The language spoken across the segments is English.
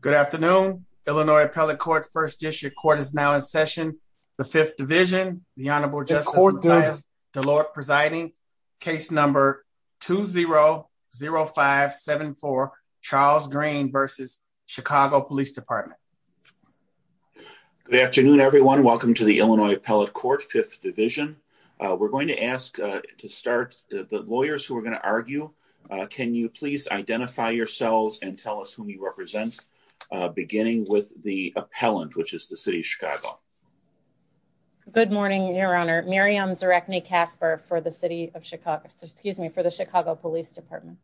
Good afternoon, Illinois Appellate Court, 1st District Court is now in session. The 5th Division, the Honorable Justice Matthias Delort presiding, case number 2-0-0-5-7-4, Charles Green v. Chicago Police Department. Good afternoon, everyone. Welcome to the Illinois Appellate Court, 5th Division. We're going to ask to start, the lawyers who are going to argue, can you please identify yourselves and tell us who you represent, beginning with the appellant, which is the City of Chicago. Good morning, Your Honor. Miriam Zarechny-Casper for the City of Chicago, excuse me, for the Chicago Police Department.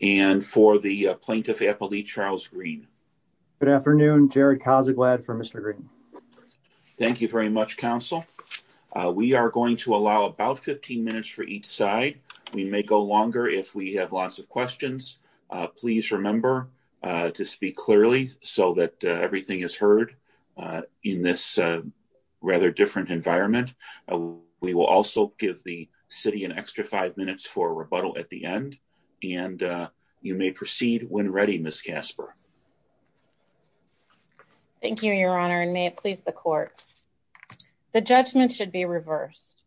And for the Plaintiff Appellee, Charles Green. Good afternoon, Jared Kozaklad for Mr. Green. Thank you very much, Counsel. We are going to allow about 15 minutes for each side. We may go longer if we have lots of questions. Please remember to speak clearly so that everything is heard in this rather different environment. We will also give the City an extra five minutes for rebuttal at the end. And you may proceed when ready, Ms. Casper. Thank you, Your Honor, and may it please the Court. The judgment should be reversed.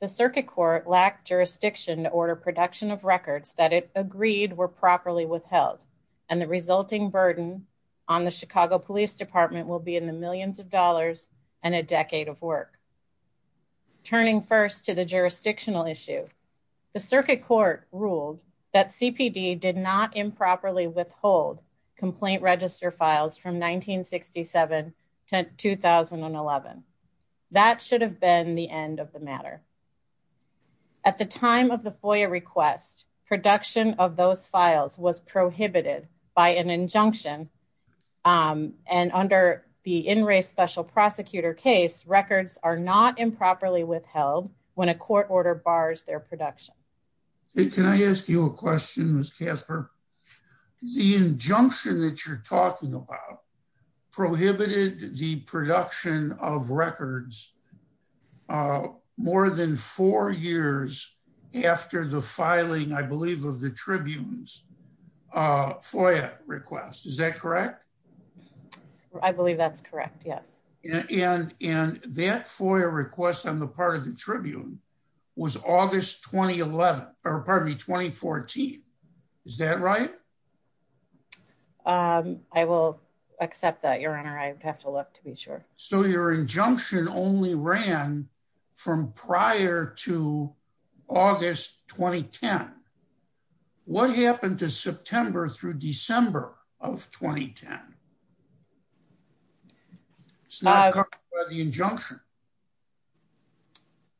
The Circuit Court lacked jurisdiction to order production of records that it agreed were properly withheld, and the resulting burden on the Chicago Police Department will be in the millions of dollars and a decade of work. Turning first to the jurisdictional issue, the Circuit Court ruled that CPD did not improperly withhold complaint register files from 1967 to 2011. That should have been the end of the matter. At the time of the FOIA request, production of those files was prohibited by an injunction, and under the In Re Special Prosecutor case, records are not improperly withheld when a court order bars their production. Can I ask you a question, Ms. Casper? The injunction that you're talking about prohibited the production of records more than four years after the filing, I believe, of the Tribune's FOIA request. Is that correct? I believe that's correct, yes. And that FOIA request on the part of the Tribune was August 2011, or pardon me, 2014. Is that right? I will accept that, Your Honor. I would have to look to be sure. So your injunction only ran from prior to August 2010. What happened to September through December of 2010? It's not covered by the injunction.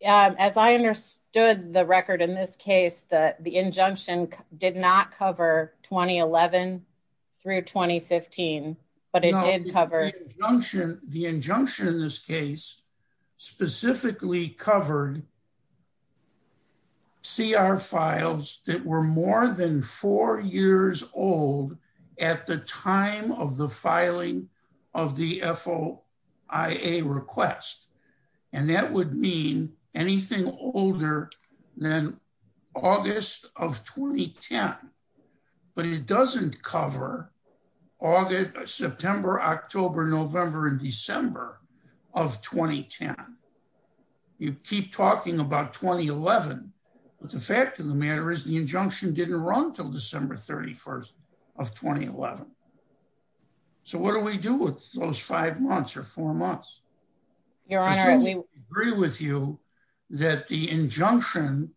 As I understood the record in this case, the injunction did not cover 2011 through 2015, but it did cover... The injunction in this case specifically covered CR files that were more than four years old at the time of the filing of the FOIA request. And that would mean anything older than August of 2010. But it doesn't cover September, October, November, and December of 2010. You keep talking about 2011, but the fact of the matter is the injunction didn't run until December 31st of 2011. So what do we do with those five months or four months? Your Honor, we... I certainly agree with you that the injunction,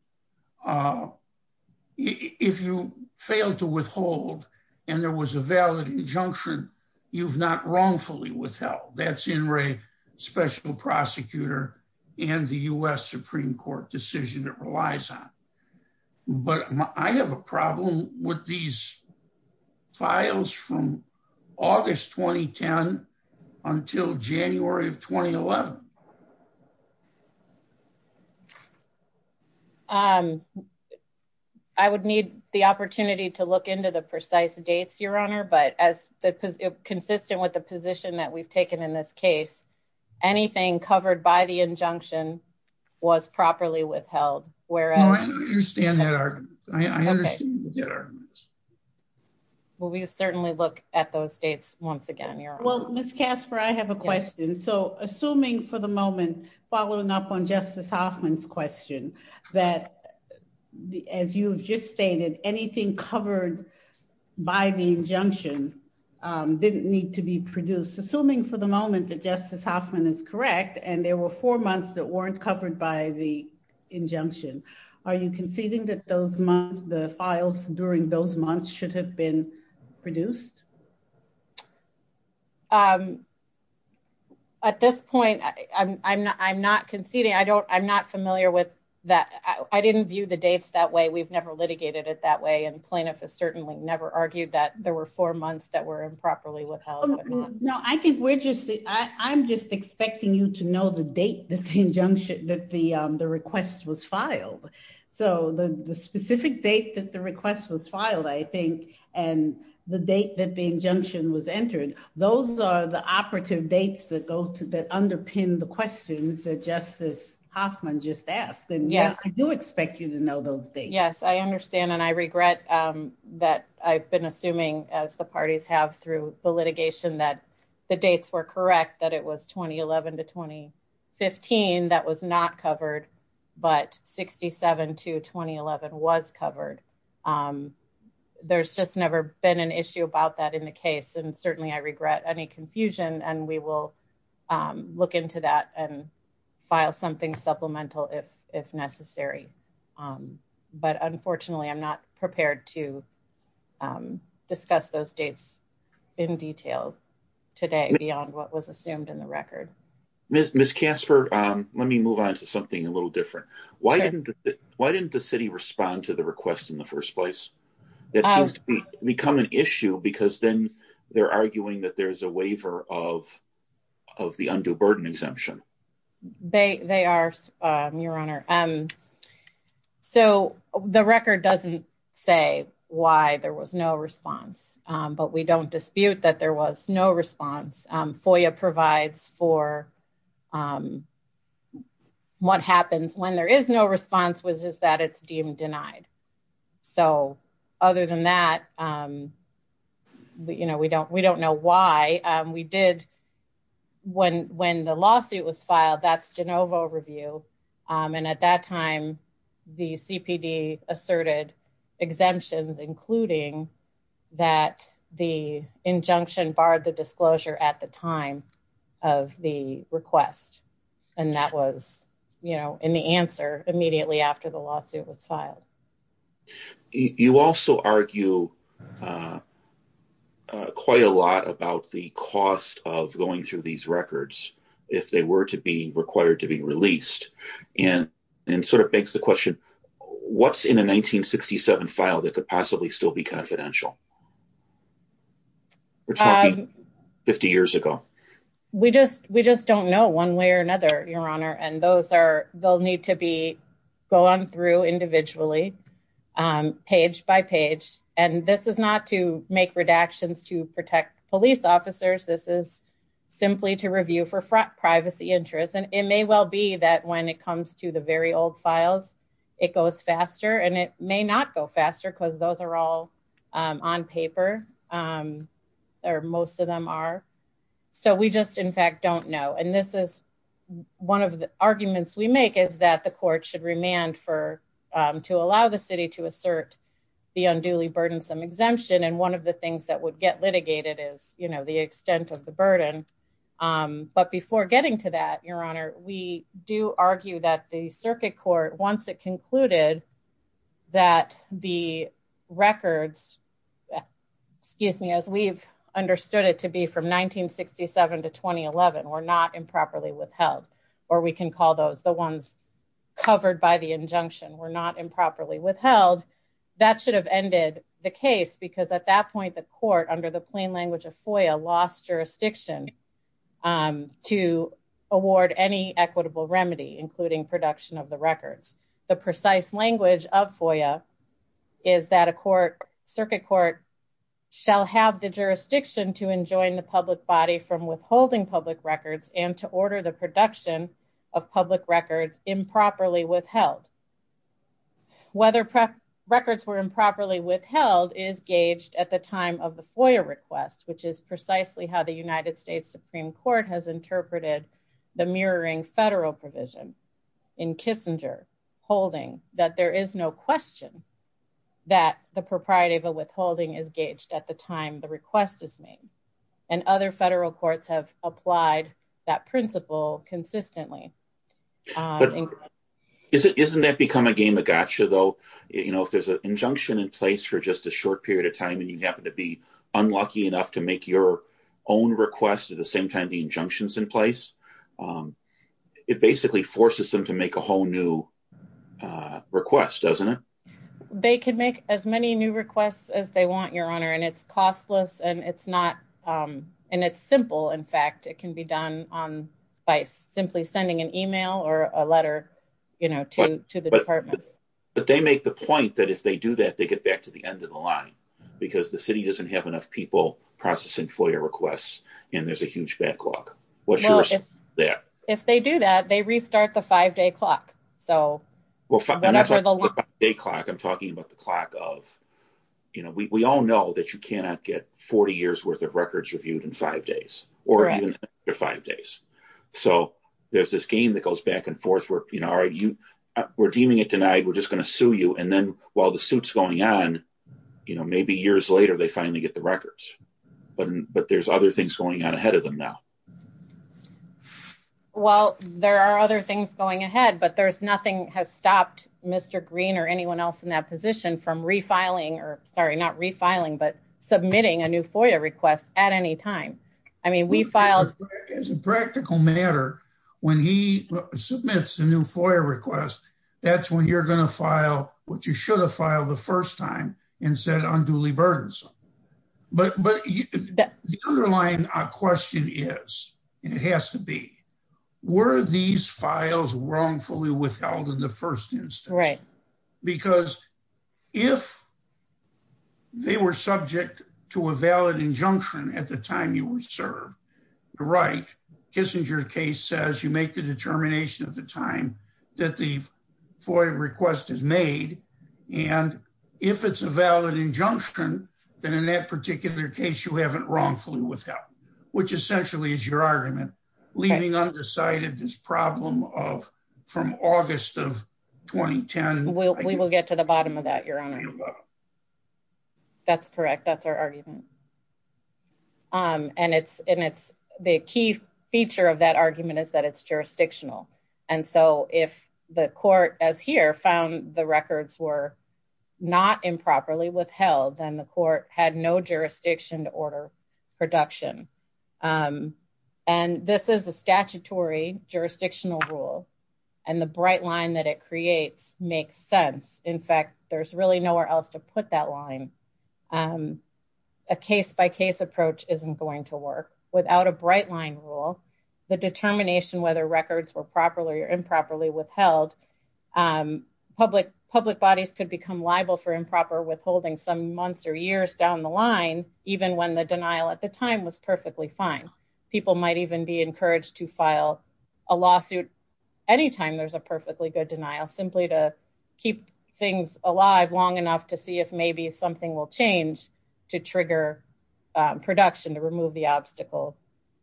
if you failed to withhold and there was a valid injunction, you've not wrongfully withheld. That's INRAE Special Prosecutor and the U.S. Supreme Court decision it relies on. But I have a problem with these files from August 2010 until January of 2011. I would need the opportunity to look into the precise dates, Your Honor, but as consistent with the position that we've taken in this case, anything covered by the injunction was properly withheld. No, I don't understand that argument. I understand that argument. Well, we certainly look at those dates once again, Your Honor. Well, Ms. Casper, I have a question. So assuming for the moment, following up on Justice Hoffman's question, that as you've just stated, anything covered by the injunction didn't need to be produced. Assuming for the moment that Justice Hoffman is correct and there were four months that were covered by the injunction, are you conceding that those months, the files during those months should have been produced? At this point, I'm not conceding. I'm not familiar with that. I didn't view the dates that way. We've never litigated it that way. And plaintiff has certainly never argued that there were four months that were improperly withheld. No, I think we're just the I'm just expecting you to know the date that the injunction that the request was filed. So the specific date that the request was filed, I think, and the date that the injunction was entered, those are the operative dates that go to that underpin the questions that Justice Hoffman just asked. And yes, I do expect you to know those dates. Yes, I understand. And I regret that I've been assuming, as the parties have through the litigation, that the dates were correct, that it was 2011 to 2015. That was not covered. But 67 to 2011 was covered. There's just never been an issue about that in the case. And certainly I regret any confusion. And we will look into that and file something supplemental if if necessary. But unfortunately, I'm not prepared to discuss those dates in detail today beyond what was assumed in the record. Miss Casper, let me move on to something a little different. Why didn't why didn't the city respond to the request in the first place? That has become an issue because then they're arguing that there's a waiver of of the undue burden exemption. They they are, Your Honor. So the record doesn't say why there was no response. But we don't dispute that there was no response. FOIA provides for what happens when there is no response was just that it's deemed denied. So other than that, you know, we don't we don't know why we did. When when the lawsuit was filed, that's Genovo review. And at that time, the CPD asserted exemptions, including that the injunction barred the disclosure at the time of the request. And that was, you know, in the answer immediately after the lawsuit was filed. You also argue quite a lot about the cost of going through these records if they were to be required to be released. And it sort of begs the question, what's in a 1967 file that could possibly still be confidential? We're talking 50 years ago. We just we just don't know one way or another, Your Honor. And those are they'll need to be going through individually, page by page. And this is not to make redactions to protect police officers. This is simply to review for privacy interests. And it may well be that when it comes to the very old files, it goes faster and it may not go faster because those are all on paper or most of them are. So we just, in fact, don't know. And this is one of the arguments we make is that the court should remand for to allow the city to assert the unduly burdensome exemption. And one of the things that would get litigated is, you know, the extent of the burden. But before getting to that, Your Honor, we do argue that the circuit court, once it concluded that the records, excuse me, as we've understood it to be from 1967 to 2011, were not improperly withheld or we can call those the ones covered by the injunction were not improperly withheld. That should have ended the case because at that point, the court under the plain language of FOIA lost jurisdiction to award any equitable remedy, including production of the records. The precise language of FOIA is that a court circuit court shall have the authority to authorize the production of public records and to order the production of public records improperly withheld. Whether records were improperly withheld is gauged at the time of the FOIA request, which is precisely how the United States Supreme Court has interpreted the mirroring federal provision in Kissinger holding that there is no question that the propriety of a withholding is gauged at the time the request is made. And other federal courts have applied that principle consistently. But isn't that become a game of gotcha, though, you know, if there's an injunction in place for just a short period of time and you happen to be unlucky enough to make your own request at the same time the injunctions in place, it basically forces them to make a whole new request, doesn't it? They can make as many new requests as they want, your honor, and it's costless and it's not and it's simple. In fact, it can be done by simply sending an email or a letter to the department. But they make the point that if they do that, they get back to the end of the line because the city doesn't have enough people processing FOIA requests and there's a huge backlog. If they do that, they restart the five day clock. So whatever the day clock, I'm talking about the clock of, you know, we all know that you cannot get 40 years worth of records reviewed in five days or five days. So there's this game that goes back and forth where, you know, are you redeeming it tonight? We're just going to sue you. And then while the suit's going on, you know, maybe years later they finally get the records. But there's other things going on ahead of them now. Well, there are other things going ahead, but there's nothing has stopped Mr. Green or anyone else in that position from refiling or sorry, not refiling, but submitting a new FOIA request at any time. I mean, we filed as a practical matter when he submits a new FOIA request. That's when you're going to file what you should have filed the first time and said unduly burdensome. But the underlying question is, and it has to be, were these files wrongfully withheld in the first instance? Right. Because if they were subject to a valid injunction at the time you were served to write, Kissinger's case says you make the determination of the time that the FOIA request is made. And if it's a valid injunction, then in that particular case, you haven't wrongfully withheld, which essentially is your argument. Leaving undecided this problem of from August of 2010. We will get to the bottom of that, your honor. That's correct. That's our argument. Um, and it's, and it's the key feature of that argument is that it's jurisdictional. And so if the court as here found the records were not improperly withheld, then the court had no jurisdiction to order production. Um, and this is a statutory jurisdictional rule and the bright line that it creates makes sense. In fact, there's really nowhere else to put that line. Um, a case by case approach isn't going to work without a bright line rule. The determination, whether records were properly or improperly withheld, um, public public bodies could become liable for improper withholding some months or years down the line. Even when the denial at the time was perfectly fine. People might even be encouraged to file a lawsuit anytime there's a perfectly good denial simply to keep things alive long enough to see if maybe something will change to trigger production to remove the obstacle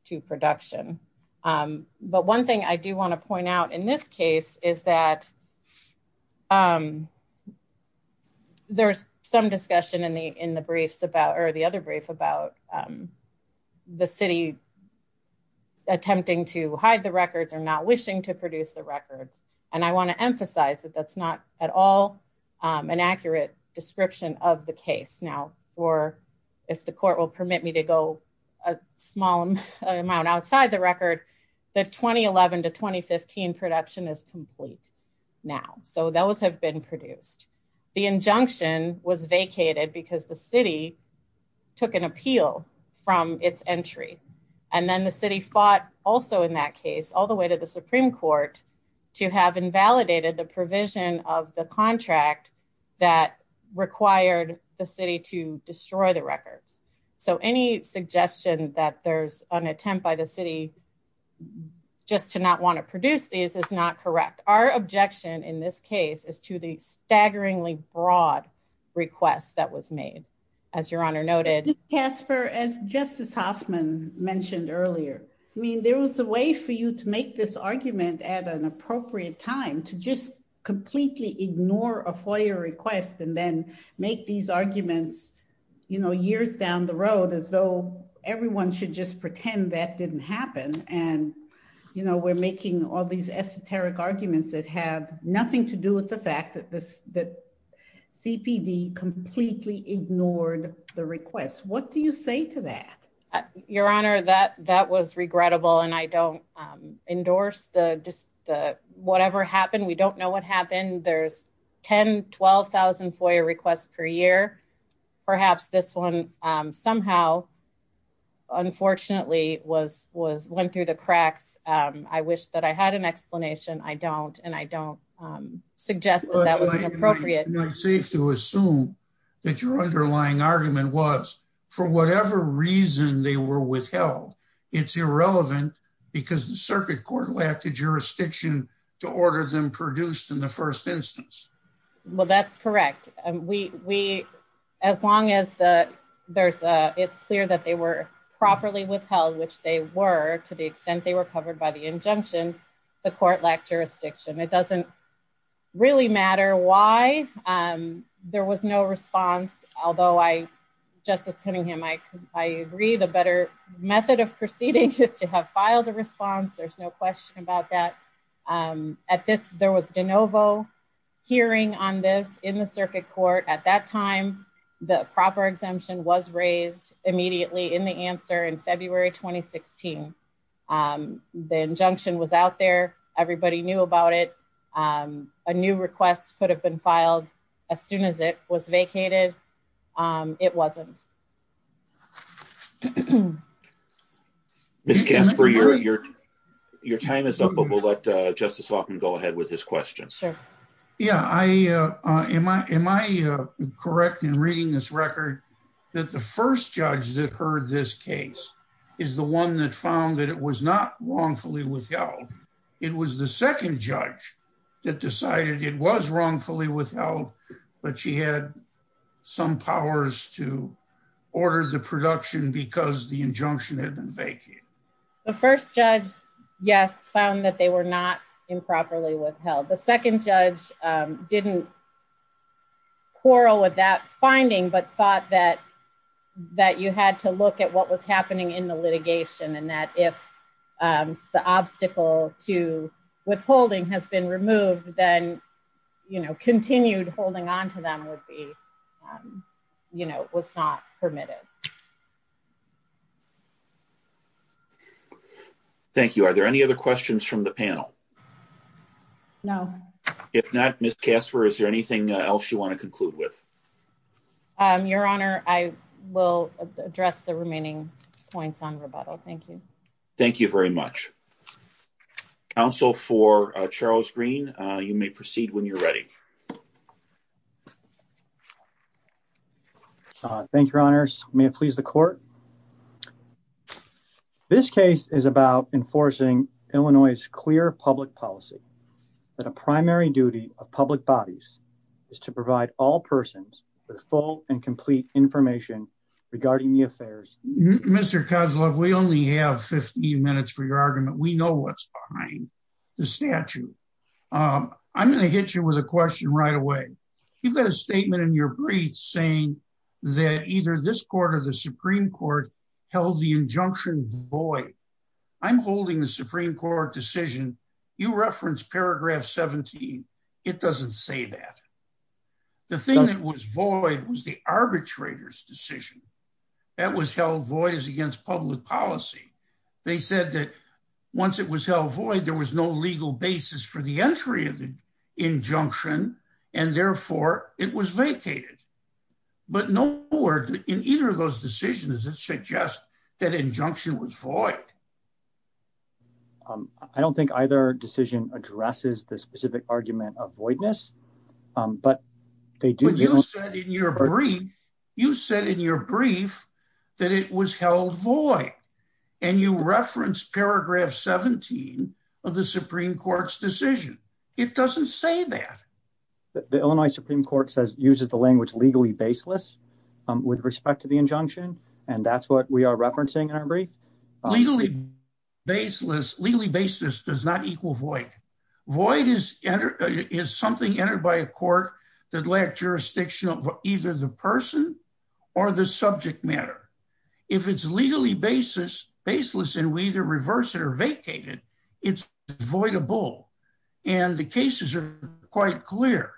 to production. Um, but one thing I do want to point out in this case is that, um, there's some discussion in the, in the briefs about, or the other brief about, um, the city attempting to hide the records or not wishing to produce the records. And I want to emphasize that that's not at all, um, an accurate description of the case now for, if the court will permit me to go a small amount outside the record, the 2011 to 2015 production is complete now. So those have been produced. The injunction was vacated because the city took an appeal from its entry. And then the city fought also in that case, all the way to the Supreme court to have invalidated the provision of the contract that required the city to destroy the records. So any suggestion that there's an attempt by the city just to not want to produce these is not correct. Our objection in this case is to the staggeringly broad request that was made. As your honor noted. Casper, as justice Hoffman mentioned earlier, I mean, there was a way for you to make this completely ignore a FOIA request and then make these arguments, you know, years down the road as though everyone should just pretend that didn't happen. And, you know, we're making all these esoteric arguments that have nothing to do with the fact that this, that CPD completely ignored the request. What do you say to that? Your honor, that, that was regrettable. And I don't, um, endorse the, just the, whatever happened. We don't know what happened. There's 10, 12,000 FOIA requests per year. Perhaps this one, um, somehow, unfortunately was, was went through the cracks. Um, I wish that I had an explanation. I don't. And I don't, um, suggest that that was an appropriate safe to assume that your underlying argument was for whatever reason they were withheld. It's irrelevant because the circuit court lacked the jurisdiction to order them produced in the first instance. Well, that's correct. We, we, as long as the there's a, it's clear that they were properly withheld, which they were to the extent they were covered by the injunction, the court lacked jurisdiction. It doesn't really matter why, um, there was no response. Although I justice Cunningham, I, I agree the better method of proceeding is to have filed a response. There's no question about that. Um, at this, there was DeNovo hearing on this in the circuit court at that time, the proper exemption was raised immediately in the answer in February, 2016. Um, the injunction was out there. Everybody knew about it. Um, a new request could have been filed as soon as it was vacated. Um, it wasn't. Miss Casper, your, your, your time is up, but we'll let, uh, justice walk and go ahead with his questions. Yeah, I, uh, am I, am I correct in reading this record that the first judge that heard this case is the one that found that it was not wrongfully withheld. It was the second judge that decided it was wrongfully withheld, but she had some powers to order the production because the injunction had been vacated. The first judge, yes, found that they were not improperly withheld. The second judge, um, didn't quarrel with that finding, but thought that, that you had to look at what was happening in the litigation and that if, um, the obstacle to withholding has been removed, then, you know, continued holding onto them would be, um, you know, it was not permitted. Thank you. Are there any other questions from the panel? No, if not, miss Casper, is there anything else you want to conclude with? Um, your honor, I will address the remaining points on rebuttal. Thank you. Thank you very much. Council for, uh, Charles green. Uh, you may proceed when you're ready. Uh, thank your honors. May it please the court. This case is about enforcing Illinois clear public policy that a primary duty of public bodies is to provide all persons with full and complete information regarding the affairs. Mr. Kozloff, we only have 15 minutes for your argument. We know what's behind the statute. Um, I'm going to hit you with a question right away. You've got a statement in your brief saying that either this court or the Supreme court held the injunction void. I'm holding the Supreme court decision. You referenced paragraph 17. It doesn't say that the thing that was void was the arbitrator's decision that was held void as against public policy. They said that once it was held void, there was no legal basis for the entry of the injunction. And therefore it was vacated, but no more in either of those decisions that suggest that injunction was void. Um, I don't think either decision addresses the specific argument of voidness, um, but they do, you said in your brief, you said in your brief that it was held void and you referenced paragraph 17 of the Supreme court's decision. It doesn't say that the Illinois Supreme court says uses the language legally baseless, um, with respect to the injunction. And that's what we are referencing in our brief. Legally baseless, legally baseless does not equal void. Void is something entered by a court that lacked jurisdiction of either the person or the subject matter. If it's legally baseless and we either reverse it or vacate it, it's voidable and the cases are quite clear.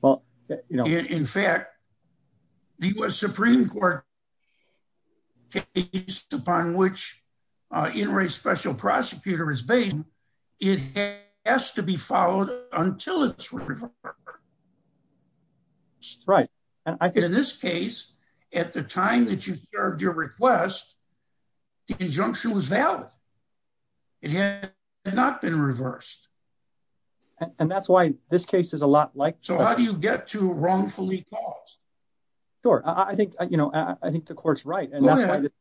Well, you know, in fact, the US Supreme court case upon which, uh, in race special prosecutor is based, it has to be followed until it's right. And I think in this case, at the time that you served your request, the injunction was valid. It had not been reversed. And that's why this case is a lot like, so how do you get to wrongfully caused? Sure. I think, you know, I think the court's right. And that's why it's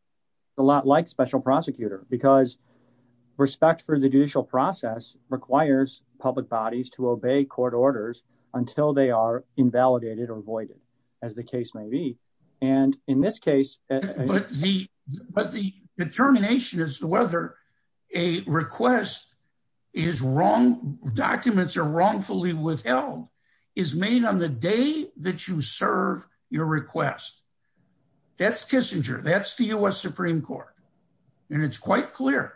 a lot like special prosecutor because respect for the judicial process requires public bodies to obey court orders until they are invalidated or avoided as the case may be. And in this case, but the, but the determination is whether a request is wrong. Documents are wrongfully withheld is made on the day that you serve your request. That's Kissinger. That's the US Supreme court. And it's quite clear.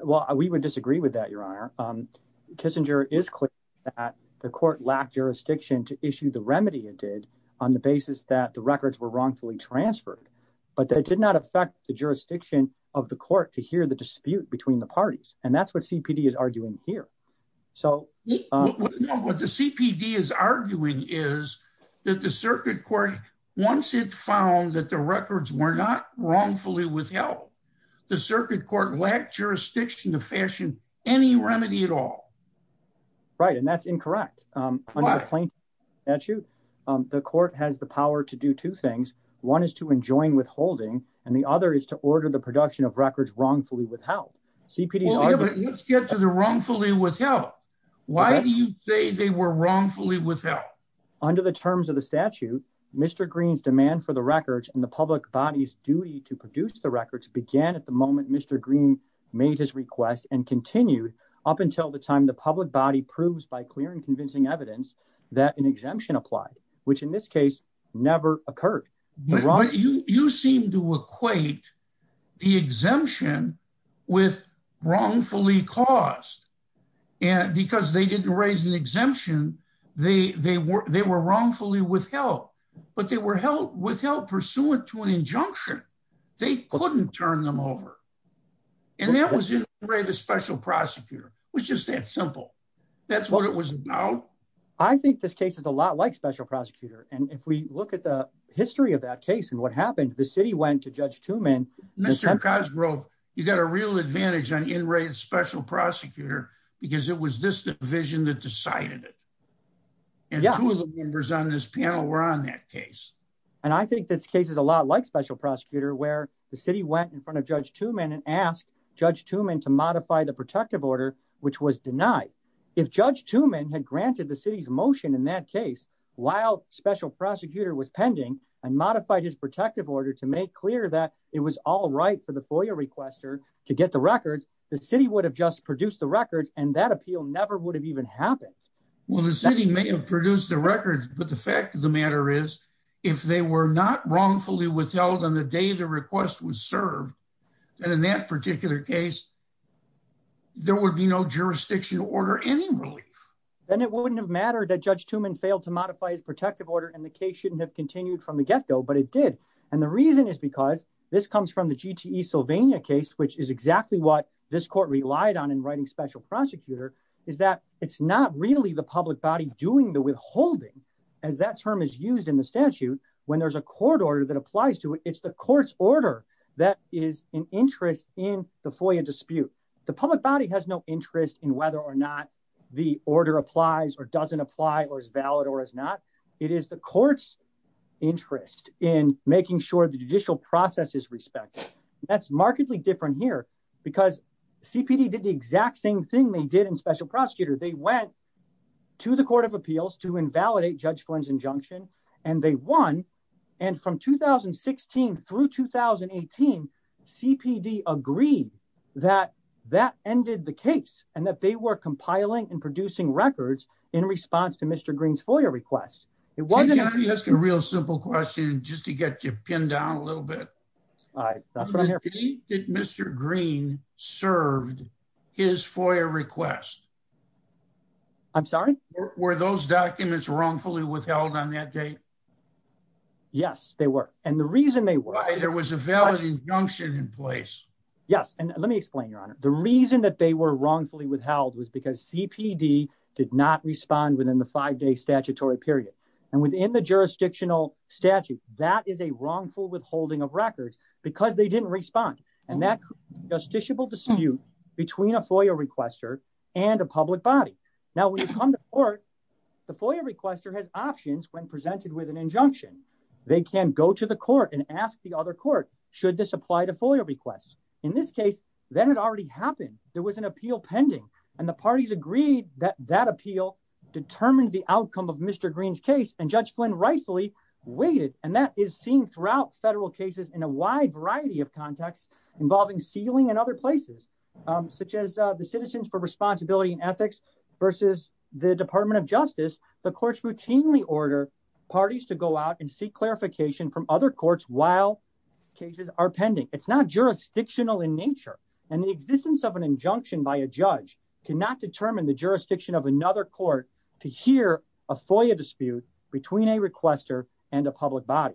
Well, we would disagree with that. Your honor. Um, Kissinger is clear that the court lacked jurisdiction to issue the remedy it did on the basis that the records were wrongfully transferred, but that did not affect the jurisdiction of the court to hear the dispute between the parties. And that's what CPD is arguing here. So what the CPD is arguing is that the circuit court, once it found that the records were not wrongfully withheld, the circuit court lacked jurisdiction to fashion any remedy at all. Right. And that's incorrect. Under the plaintiff statute, the court has the power to do two things. One is to enjoin withholding. And the other is to order the production of records wrongfully withheld. CPD, let's get to the wrongfully withheld. Why do you say they were wrongfully withheld? Under the terms of the statute, Mr. Green's demand for the records and the public body's duty to produce the records began at the moment Mr. Green made his request and continued up until the time the public body proves by clear and evidence that an exemption applied, which in this case never occurred. You seem to equate the exemption with wrongfully caused. Because they didn't raise an exemption, they were wrongfully withheld, but they were withheld pursuant to an injunction. They couldn't turn them over. And that was in the way of the special prosecutor, which is that simple. That's what it was about. I think this case is a lot like special prosecutor. And if we look at the history of that case and what happened, the city went to Judge Tooman. Mr. Cosgrove, you got a real advantage on in-rate special prosecutor because it was this division that decided it. And two of the members on this panel were on that case. And I think this case is a lot like special prosecutor, where the city went in front of Judge Tooman and asked Judge Tooman to modify the protective order, which was denied. If Judge Tooman had granted the city's motion in that case, while special prosecutor was pending and modified his protective order to make clear that it was all right for the FOIA requester to get the records, the city would have just produced the records and that appeal never would have even happened. Well, the city may have produced the records, but the fact of the matter is if they were not wrongfully withheld on the day the request was served, and in that particular case, there would be no jurisdiction to order any relief. Then it wouldn't have mattered that Judge Tooman failed to modify his protective order and the case shouldn't have continued from the get-go, but it did. And the reason is because this comes from the GTE Sylvania case, which is exactly what this court relied on in writing special prosecutor, is that it's not really the public body doing the withholding, as that term is used in the statute, when there's a court order that applies to it. It's the court's order that is in interest in the FOIA dispute. The public body has no interest in whether or not the order applies or doesn't apply or is valid or is not. It is the court's interest in making sure the judicial process is respected. That's markedly different here because CPD did the exact same thing they did in special prosecutor. They went to the Court of Appeals to invalidate Judge Flynn's injunction, and they won. And from 2016 through 2018, CPD agreed that that ended the case and that they were compiling and producing records in response to Mr. Green's FOIA request. It wasn't— Can I ask a real simple question, just to get you pinned down a little bit? All right, that's what I'm here for. The date that Mr. Green served his FOIA request— I'm sorry? Were those documents wrongfully withheld on that date? Yes, they were. And the reason they were— There was a valid injunction in place. Yes, and let me explain, Your Honor. The reason that they were wrongfully withheld was because CPD did not respond within the five-day statutory period. And within the jurisdictional statute, that is a wrongful withholding of records because they didn't respond. And that's a justiciable dispute between a FOIA requester and a public body. Now, when you come to court, the FOIA requester has options when presented with an injunction. They can go to the court and ask the other court, should this apply to FOIA requests? In this case, that had already happened. There was an appeal pending. And the parties agreed that that appeal determined the outcome of Mr. Green's case. And Judge Flynn rightfully waited. And that is seen throughout federal cases in a wide variety of contexts involving sealing and other places, such as the Citizens for Responsibility and Ethics versus the Department of Justice. The courts routinely order parties to go out and seek clarification from other courts while cases are pending. It's not jurisdictional in nature. And the existence of an injunction by a judge cannot determine the jurisdiction of another court to hear a FOIA dispute between a requester and a public body.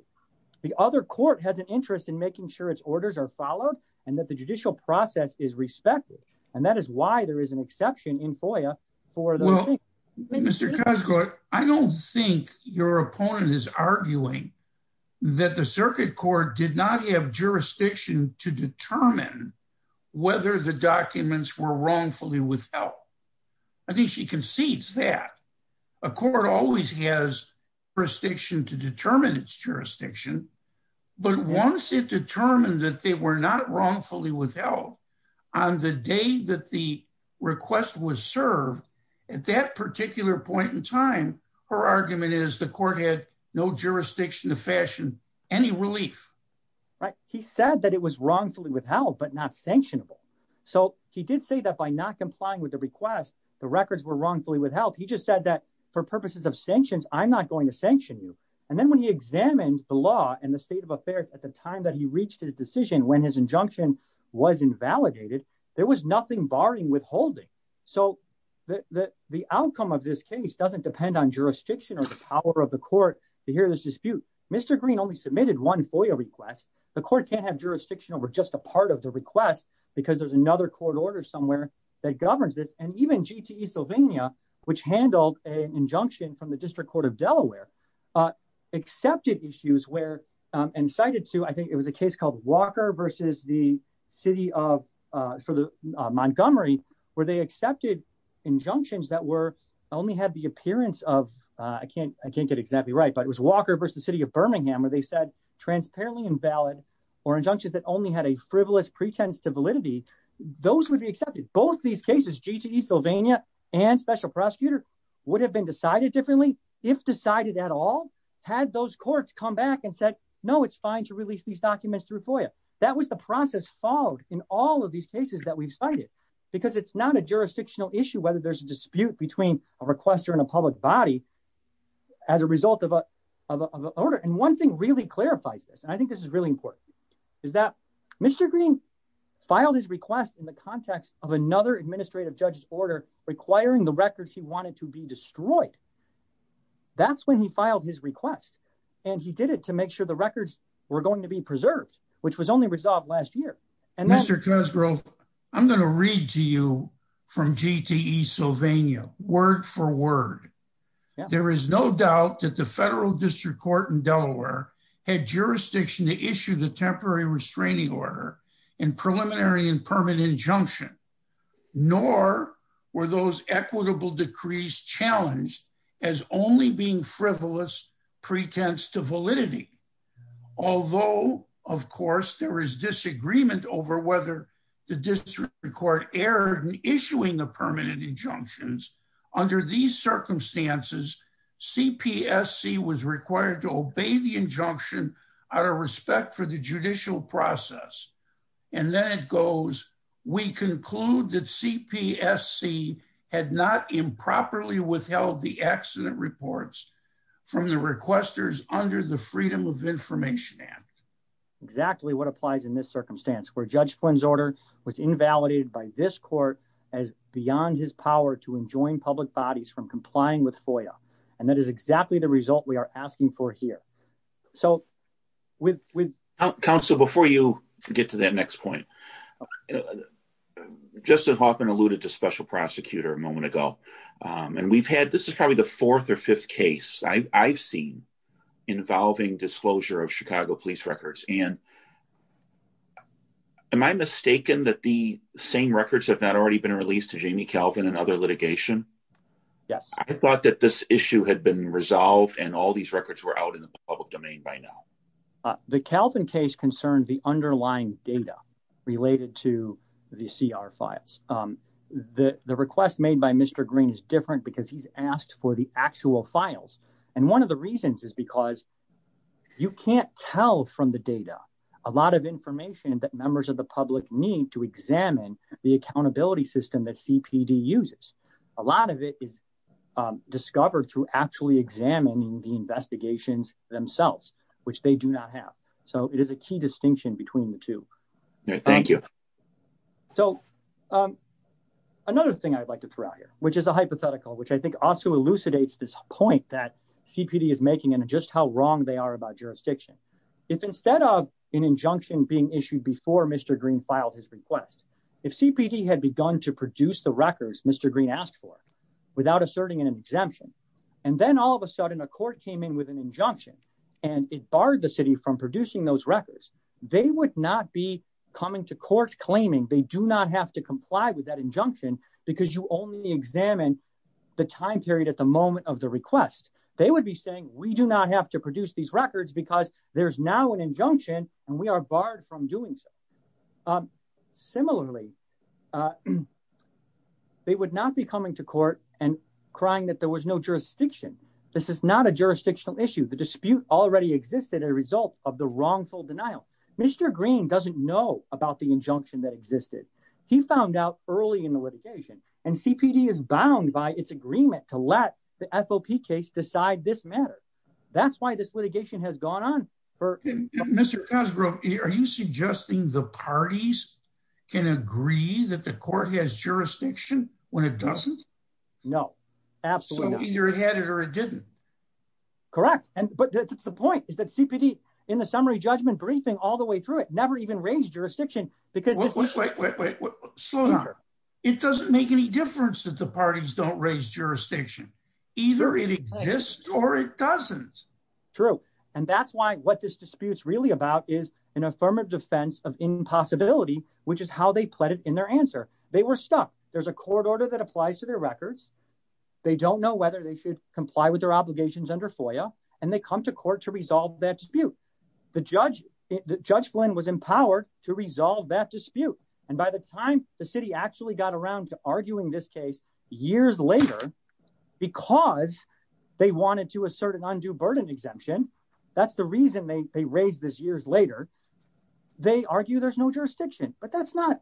The other court has an interest in making sure its orders are followed and that the judicial process is respected. And that is why there is an exception in FOIA for those cases. Well, Mr. Cosgrove, I don't think your opponent is arguing that the circuit court did not have jurisdiction to determine whether the documents were wrongfully withheld. I think she concedes that. A court always has jurisdiction to determine its jurisdiction. But once it determined that they were not wrongfully withheld on the day that the request was served, at that particular point in time, her argument is the court had no jurisdiction to fashion any relief. Right. He said that it was wrongfully withheld, but not sanctionable. So he did say that by not complying with the request, the records were wrongfully withheld. He just said that for purposes of sanctions, I'm not going to sanction you. And then when he examined the law and the state of affairs at the time that he reached his decision, when his injunction was invalidated, there was nothing barring withholding. So the outcome of this case doesn't depend on jurisdiction or the power of the court to hear this dispute. Mr. Green only submitted one FOIA request. The court can't have jurisdiction over just a part of the request because there's another court order somewhere that governs this. And even GTE Sylvania, which handled an injunction from the District Court of Delaware, accepted issues where, and cited two, I think it was a case called Walker versus the city of, for the Montgomery, where they accepted injunctions that were, only had the appearance of, I can't, I can't get exactly right, but it was Walker versus the city of Birmingham where they said transparently invalid or injunctions that only had a frivolous pretense to validity. Those would be accepted. Both these cases, GTE Sylvania and special prosecutor would have been decided differently if decided at all, had those courts come back and said, no, it's fine to release these documents through FOIA. That was the process followed in all of these cases that we've cited, because it's not a jurisdictional issue, whether there's a dispute between a requester and a public body as a result of an order. And one thing really clarifies this, and I think this is really important, is that Mr. Green filed his request in the context of another administrative judge's order requiring the records he wanted to be destroyed. That's when he filed his request and he did it to make sure the records were going to be preserved, which was only resolved last year. And Mr. Kusgrove, I'm going to read to you from GTE Sylvania, word for word. There is no doubt that the federal district court in Delaware had jurisdiction to issue the temporary restraining order and preliminary and permanent injunction, nor were those equitable decrees challenged as only being frivolous pretense to validity. Although, of course, there is disagreement over whether the district court erred in issuing the permanent injunctions, under these circumstances, CPSC was required to obey the injunction out of respect for the judicial process. And then it goes, we conclude that CPSC had not improperly withheld the accident reports from the requesters under the Freedom of Information Act. Exactly what applies in this circumstance where Judge Flynn's order was invalidated by this court as beyond his power to enjoin public bodies from complying with FOIA. And that is exactly the result we are asking for here. So with counsel, before you get to that next point, Justin Hoffman alluded to special prosecutor a moment ago, and we've had this is probably the fourth or fifth case I've seen involving disclosure of Chicago police records. And am I mistaken that the same records have not already been released to Jamie Calvin and other litigation? Yes, I thought that this issue had been resolved and all these records were out in the public domain by now. The Calvin case concerned the underlying data related to the CR files. The request made by Mr. Green is different because he's asked for the actual files. And one of the reasons is because you can't tell from the data a lot of information that members of the public need to examine the accountability system that CPD uses. A lot of it is discovered through actually examining the investigations themselves, which they do not have. So it is a key distinction between the two. Thank you. So another thing I'd like to throw out here, which is a hypothetical, which I think also elucidates this point that CPD is making and just how wrong they are about jurisdiction. If instead of an injunction being issued before Mr. Green filed his request, if CPD had begun to produce the records Mr. Green asked for without asserting an exemption, and then all of a sudden a court came in with an injunction and it barred the city from producing those records, they would not be coming to court claiming they do not have to comply with that injunction because you only examine the time period at the moment of the request. They would be saying we do not have to produce these records because there's now an injunction and we are barred from doing so. Um, similarly, uh, they would not be coming to court and crying that there was no jurisdiction. This is not a jurisdictional issue. The dispute already existed as a result of the wrongful denial. Mr. Green doesn't know about the injunction that existed. He found out early in the litigation and CPD is bound by its agreement to let the FOP case decide this matter. That's why this litigation has gone on. Mr. Cosgrove, are you suggesting the parties can agree that the court has jurisdiction when it doesn't? No, absolutely not. So either it had it or it didn't. Correct, and but that's the point is that CPD in the summary judgment briefing all the way through it never even raised jurisdiction because- Wait, wait, wait, wait, slow down. It doesn't make any difference that the parties don't raise jurisdiction. Either it exists or it doesn't. True. And that's why what this dispute's really about is an affirmative defense of impossibility, which is how they pled it in their answer. They were stuck. There's a court order that applies to their records. They don't know whether they should comply with their obligations under FOIA and they come to court to resolve that dispute. The judge, Judge Flynn was empowered to resolve that dispute. And by the time the city actually got around to arguing this case years later because they wanted to assert an undue burden exemption, that's the reason they raised this years later, they argue there's no jurisdiction. But that's not,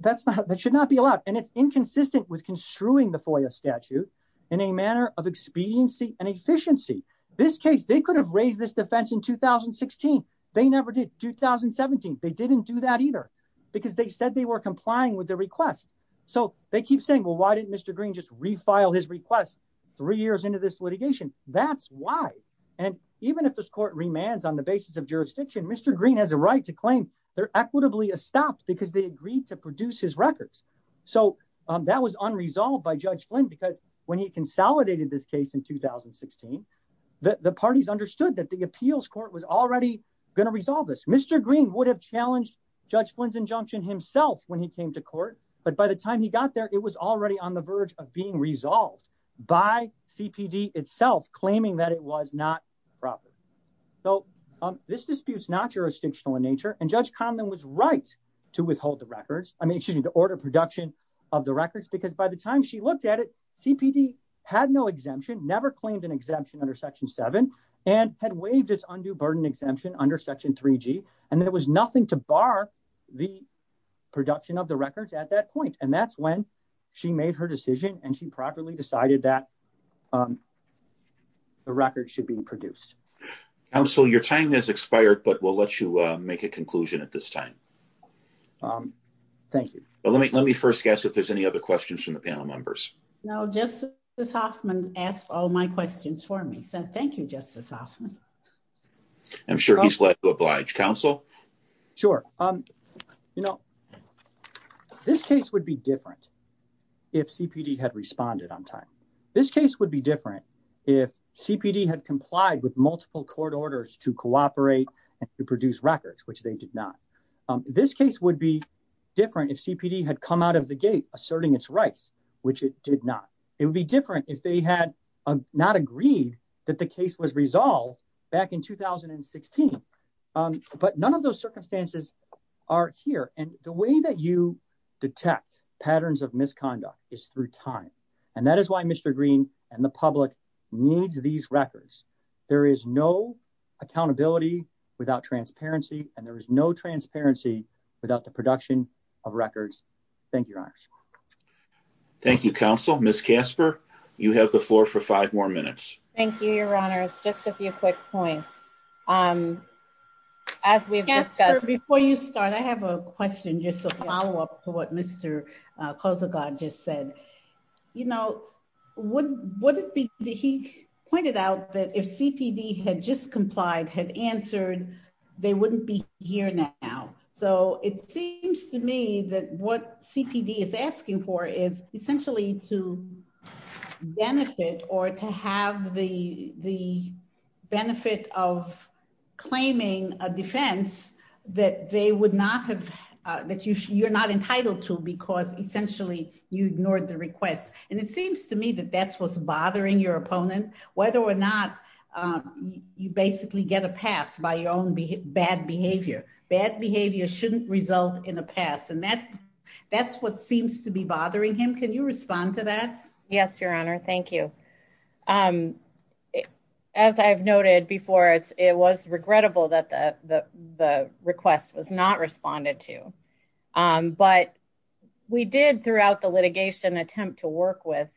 that should not be allowed. And it's inconsistent with construing the FOIA statute in a manner of expediency and efficiency. This case, they could have raised this defense in 2016. They never did. 2017, they didn't do that either because they said they were complying with the request. So they keep saying, well, why didn't Mr. Green just refile his request three years into this litigation? That's why. And even if this court remands on the basis of jurisdiction, Mr. Green has a right to claim they're equitably estopped because they agreed to produce his records. So that was unresolved by Judge Flynn because when he consolidated this case in 2016, the parties understood that the appeals court was already going to resolve this. Mr. Green would have challenged Judge Flynn's injunction himself when he came to court. But by the time he got there, it was already on the verge of being resolved by CPD itself, claiming that it was not proper. So this dispute's not jurisdictional in nature. And Judge Conlon was right to withhold the records. I mean, excuse me, to order production of the records because by the time she looked at it, CPD had no exemption, never claimed an exemption under Section 7, and had waived its undue burden exemption under Section 3G. And there was nothing to bar the production of the records at that point. And that's when she made her decision and she properly decided that the records should be produced. Counsel, your time has expired, but we'll let you make a conclusion at this time. Thank you. Well, let me first guess if there's any other questions from the panel members. No, Justice Hoffman asked all my questions for me. So thank you, Justice Hoffman. I'm sure he's glad to oblige. Counsel? Sure. You know, this case would be different if CPD had responded on time. This case would be different if CPD had complied with multiple court orders to cooperate and to produce records, which they did not. This case would be different if CPD had come out of the gate asserting its rights, which it did not. It would be different if they had not agreed that the case was resolved back in 2016. But none of those circumstances are here. And the way that you detect patterns of misconduct is through time. And that is why Mr. Green and the public needs these records. There is no accountability without transparency, and there is no transparency without the production of records. Thank you, Your Honors. Thank you, Counsel. Ms. Casper, you have the floor for five more minutes. Thank you, Your Honors. Just a few quick points. Um, as we've discussed— Casper, before you start, I have a question just to follow up to what Mr. Kosogod just said. You know, would it be—he pointed out that if CPD had just complied, had answered, they wouldn't be here now. So it seems to me that what CPD is asking for is essentially to benefit or to have the benefit of claiming a defense that they would not have—that you're not entitled to because essentially you ignored the request. And it seems to me that that's what's bothering your opponent, whether or not you basically get a pass by your own bad behavior. Bad behavior shouldn't result in a pass. And that's what seems to be bothering him. Can you respond to that? Yes, Your Honor. Thank you. As I've noted before, it was regrettable that the request was not responded to. But we did, throughout the litigation, attempt to work with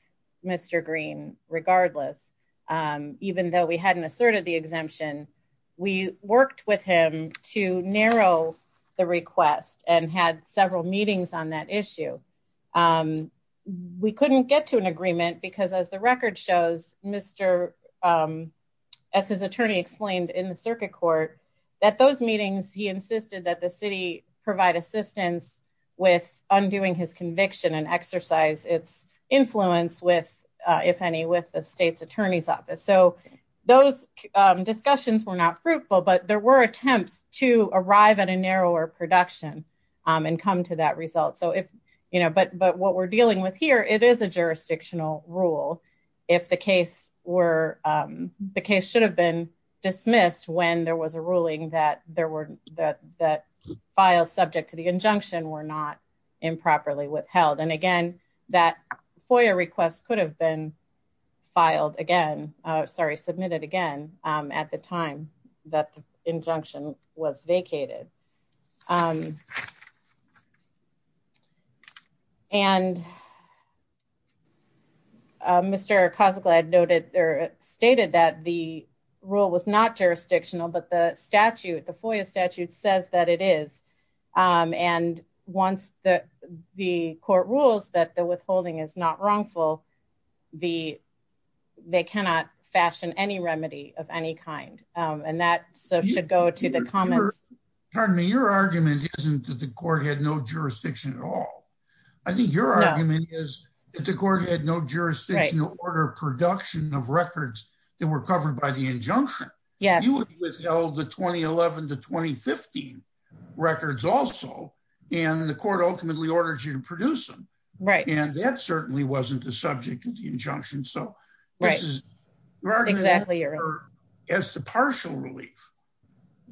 Mr. Green regardless. Even though we hadn't asserted the exemption, we worked with him to narrow the request and had several meetings on that issue. We couldn't get to an agreement because, as the record shows, Mr.—as his attorney explained in the circuit court, at those meetings he insisted that the city provide assistance with undoing his conviction and exercise its influence with, if any, with the state's attorney's office. So those discussions were not fruitful, but there were attempts to arrive at a narrower production and come to that result. But what we're dealing with here, it is a jurisdictional rule. If the case were—the case should have been dismissed when there was a ruling that there were—that files subject to the injunction were not improperly withheld. And again, that FOIA request could have been filed again—sorry, submitted again at the time that the injunction was vacated. And Mr. Kozaklaid noted or stated that the rule was not jurisdictional, but the statute, the FOIA statute, says that it is. And once the court rules that the withholding is not wrongful, the—they cannot fashion any remedy of any kind. And that should go to the comments— Your argument isn't that the court had no jurisdiction at all. I think your argument is that the court had no jurisdiction to order production of records that were covered by the injunction. Yes. You would withheld the 2011 to 2015 records also, and the court ultimately ordered you to produce them. And that certainly wasn't the subject of the injunction. So, which is— Right, exactly. As the partial relief.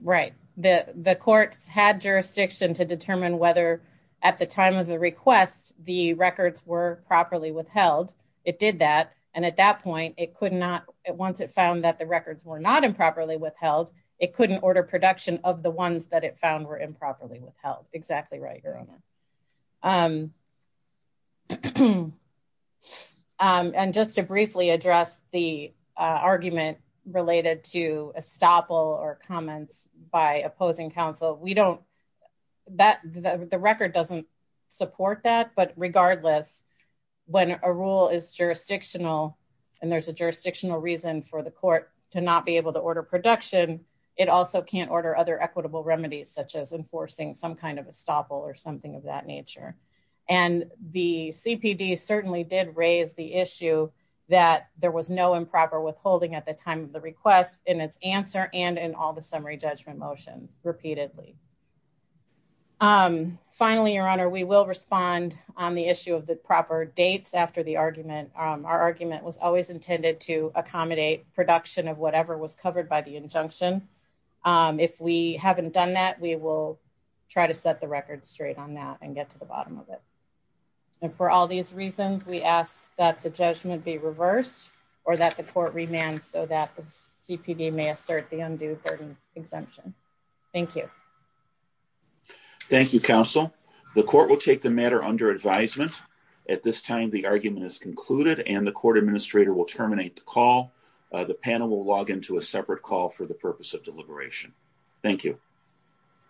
Right. The courts had jurisdiction to determine whether, at the time of the request, the records were properly withheld. It did that. And at that point, it could not—once it found that the records were not improperly withheld, it couldn't order production of the ones that it found were improperly withheld. Exactly right, Your Honor. And just to briefly address the argument related to estoppel or comments by opposing counsel, we don't—the record doesn't support that, but regardless, when a rule is jurisdictional and there's a jurisdictional reason for the court to not be able to order production, it also can't order other equitable remedies, such as enforcing some kind of estoppel or something of that nature. And the CPD certainly did raise the issue that there was no improper withholding at the time of the request in its answer and in all the summary judgment motions, repeatedly. Finally, Your Honor, we will respond on the issue of the proper dates after the argument. Our argument was always intended to accommodate production of whatever was covered by the injunction. If we haven't done that, we will try to set the record straight on that and get to the bottom of it. And for all these reasons, we ask that the judgment be reversed or that the court remand so that the CPD may assert the undue burden exemption. Thank you. Thank you, counsel. The court will take the matter under advisement. At this time, the argument is concluded and the court administrator will terminate the call. The panel will log into a separate call for the purpose of deliberation. Thank you.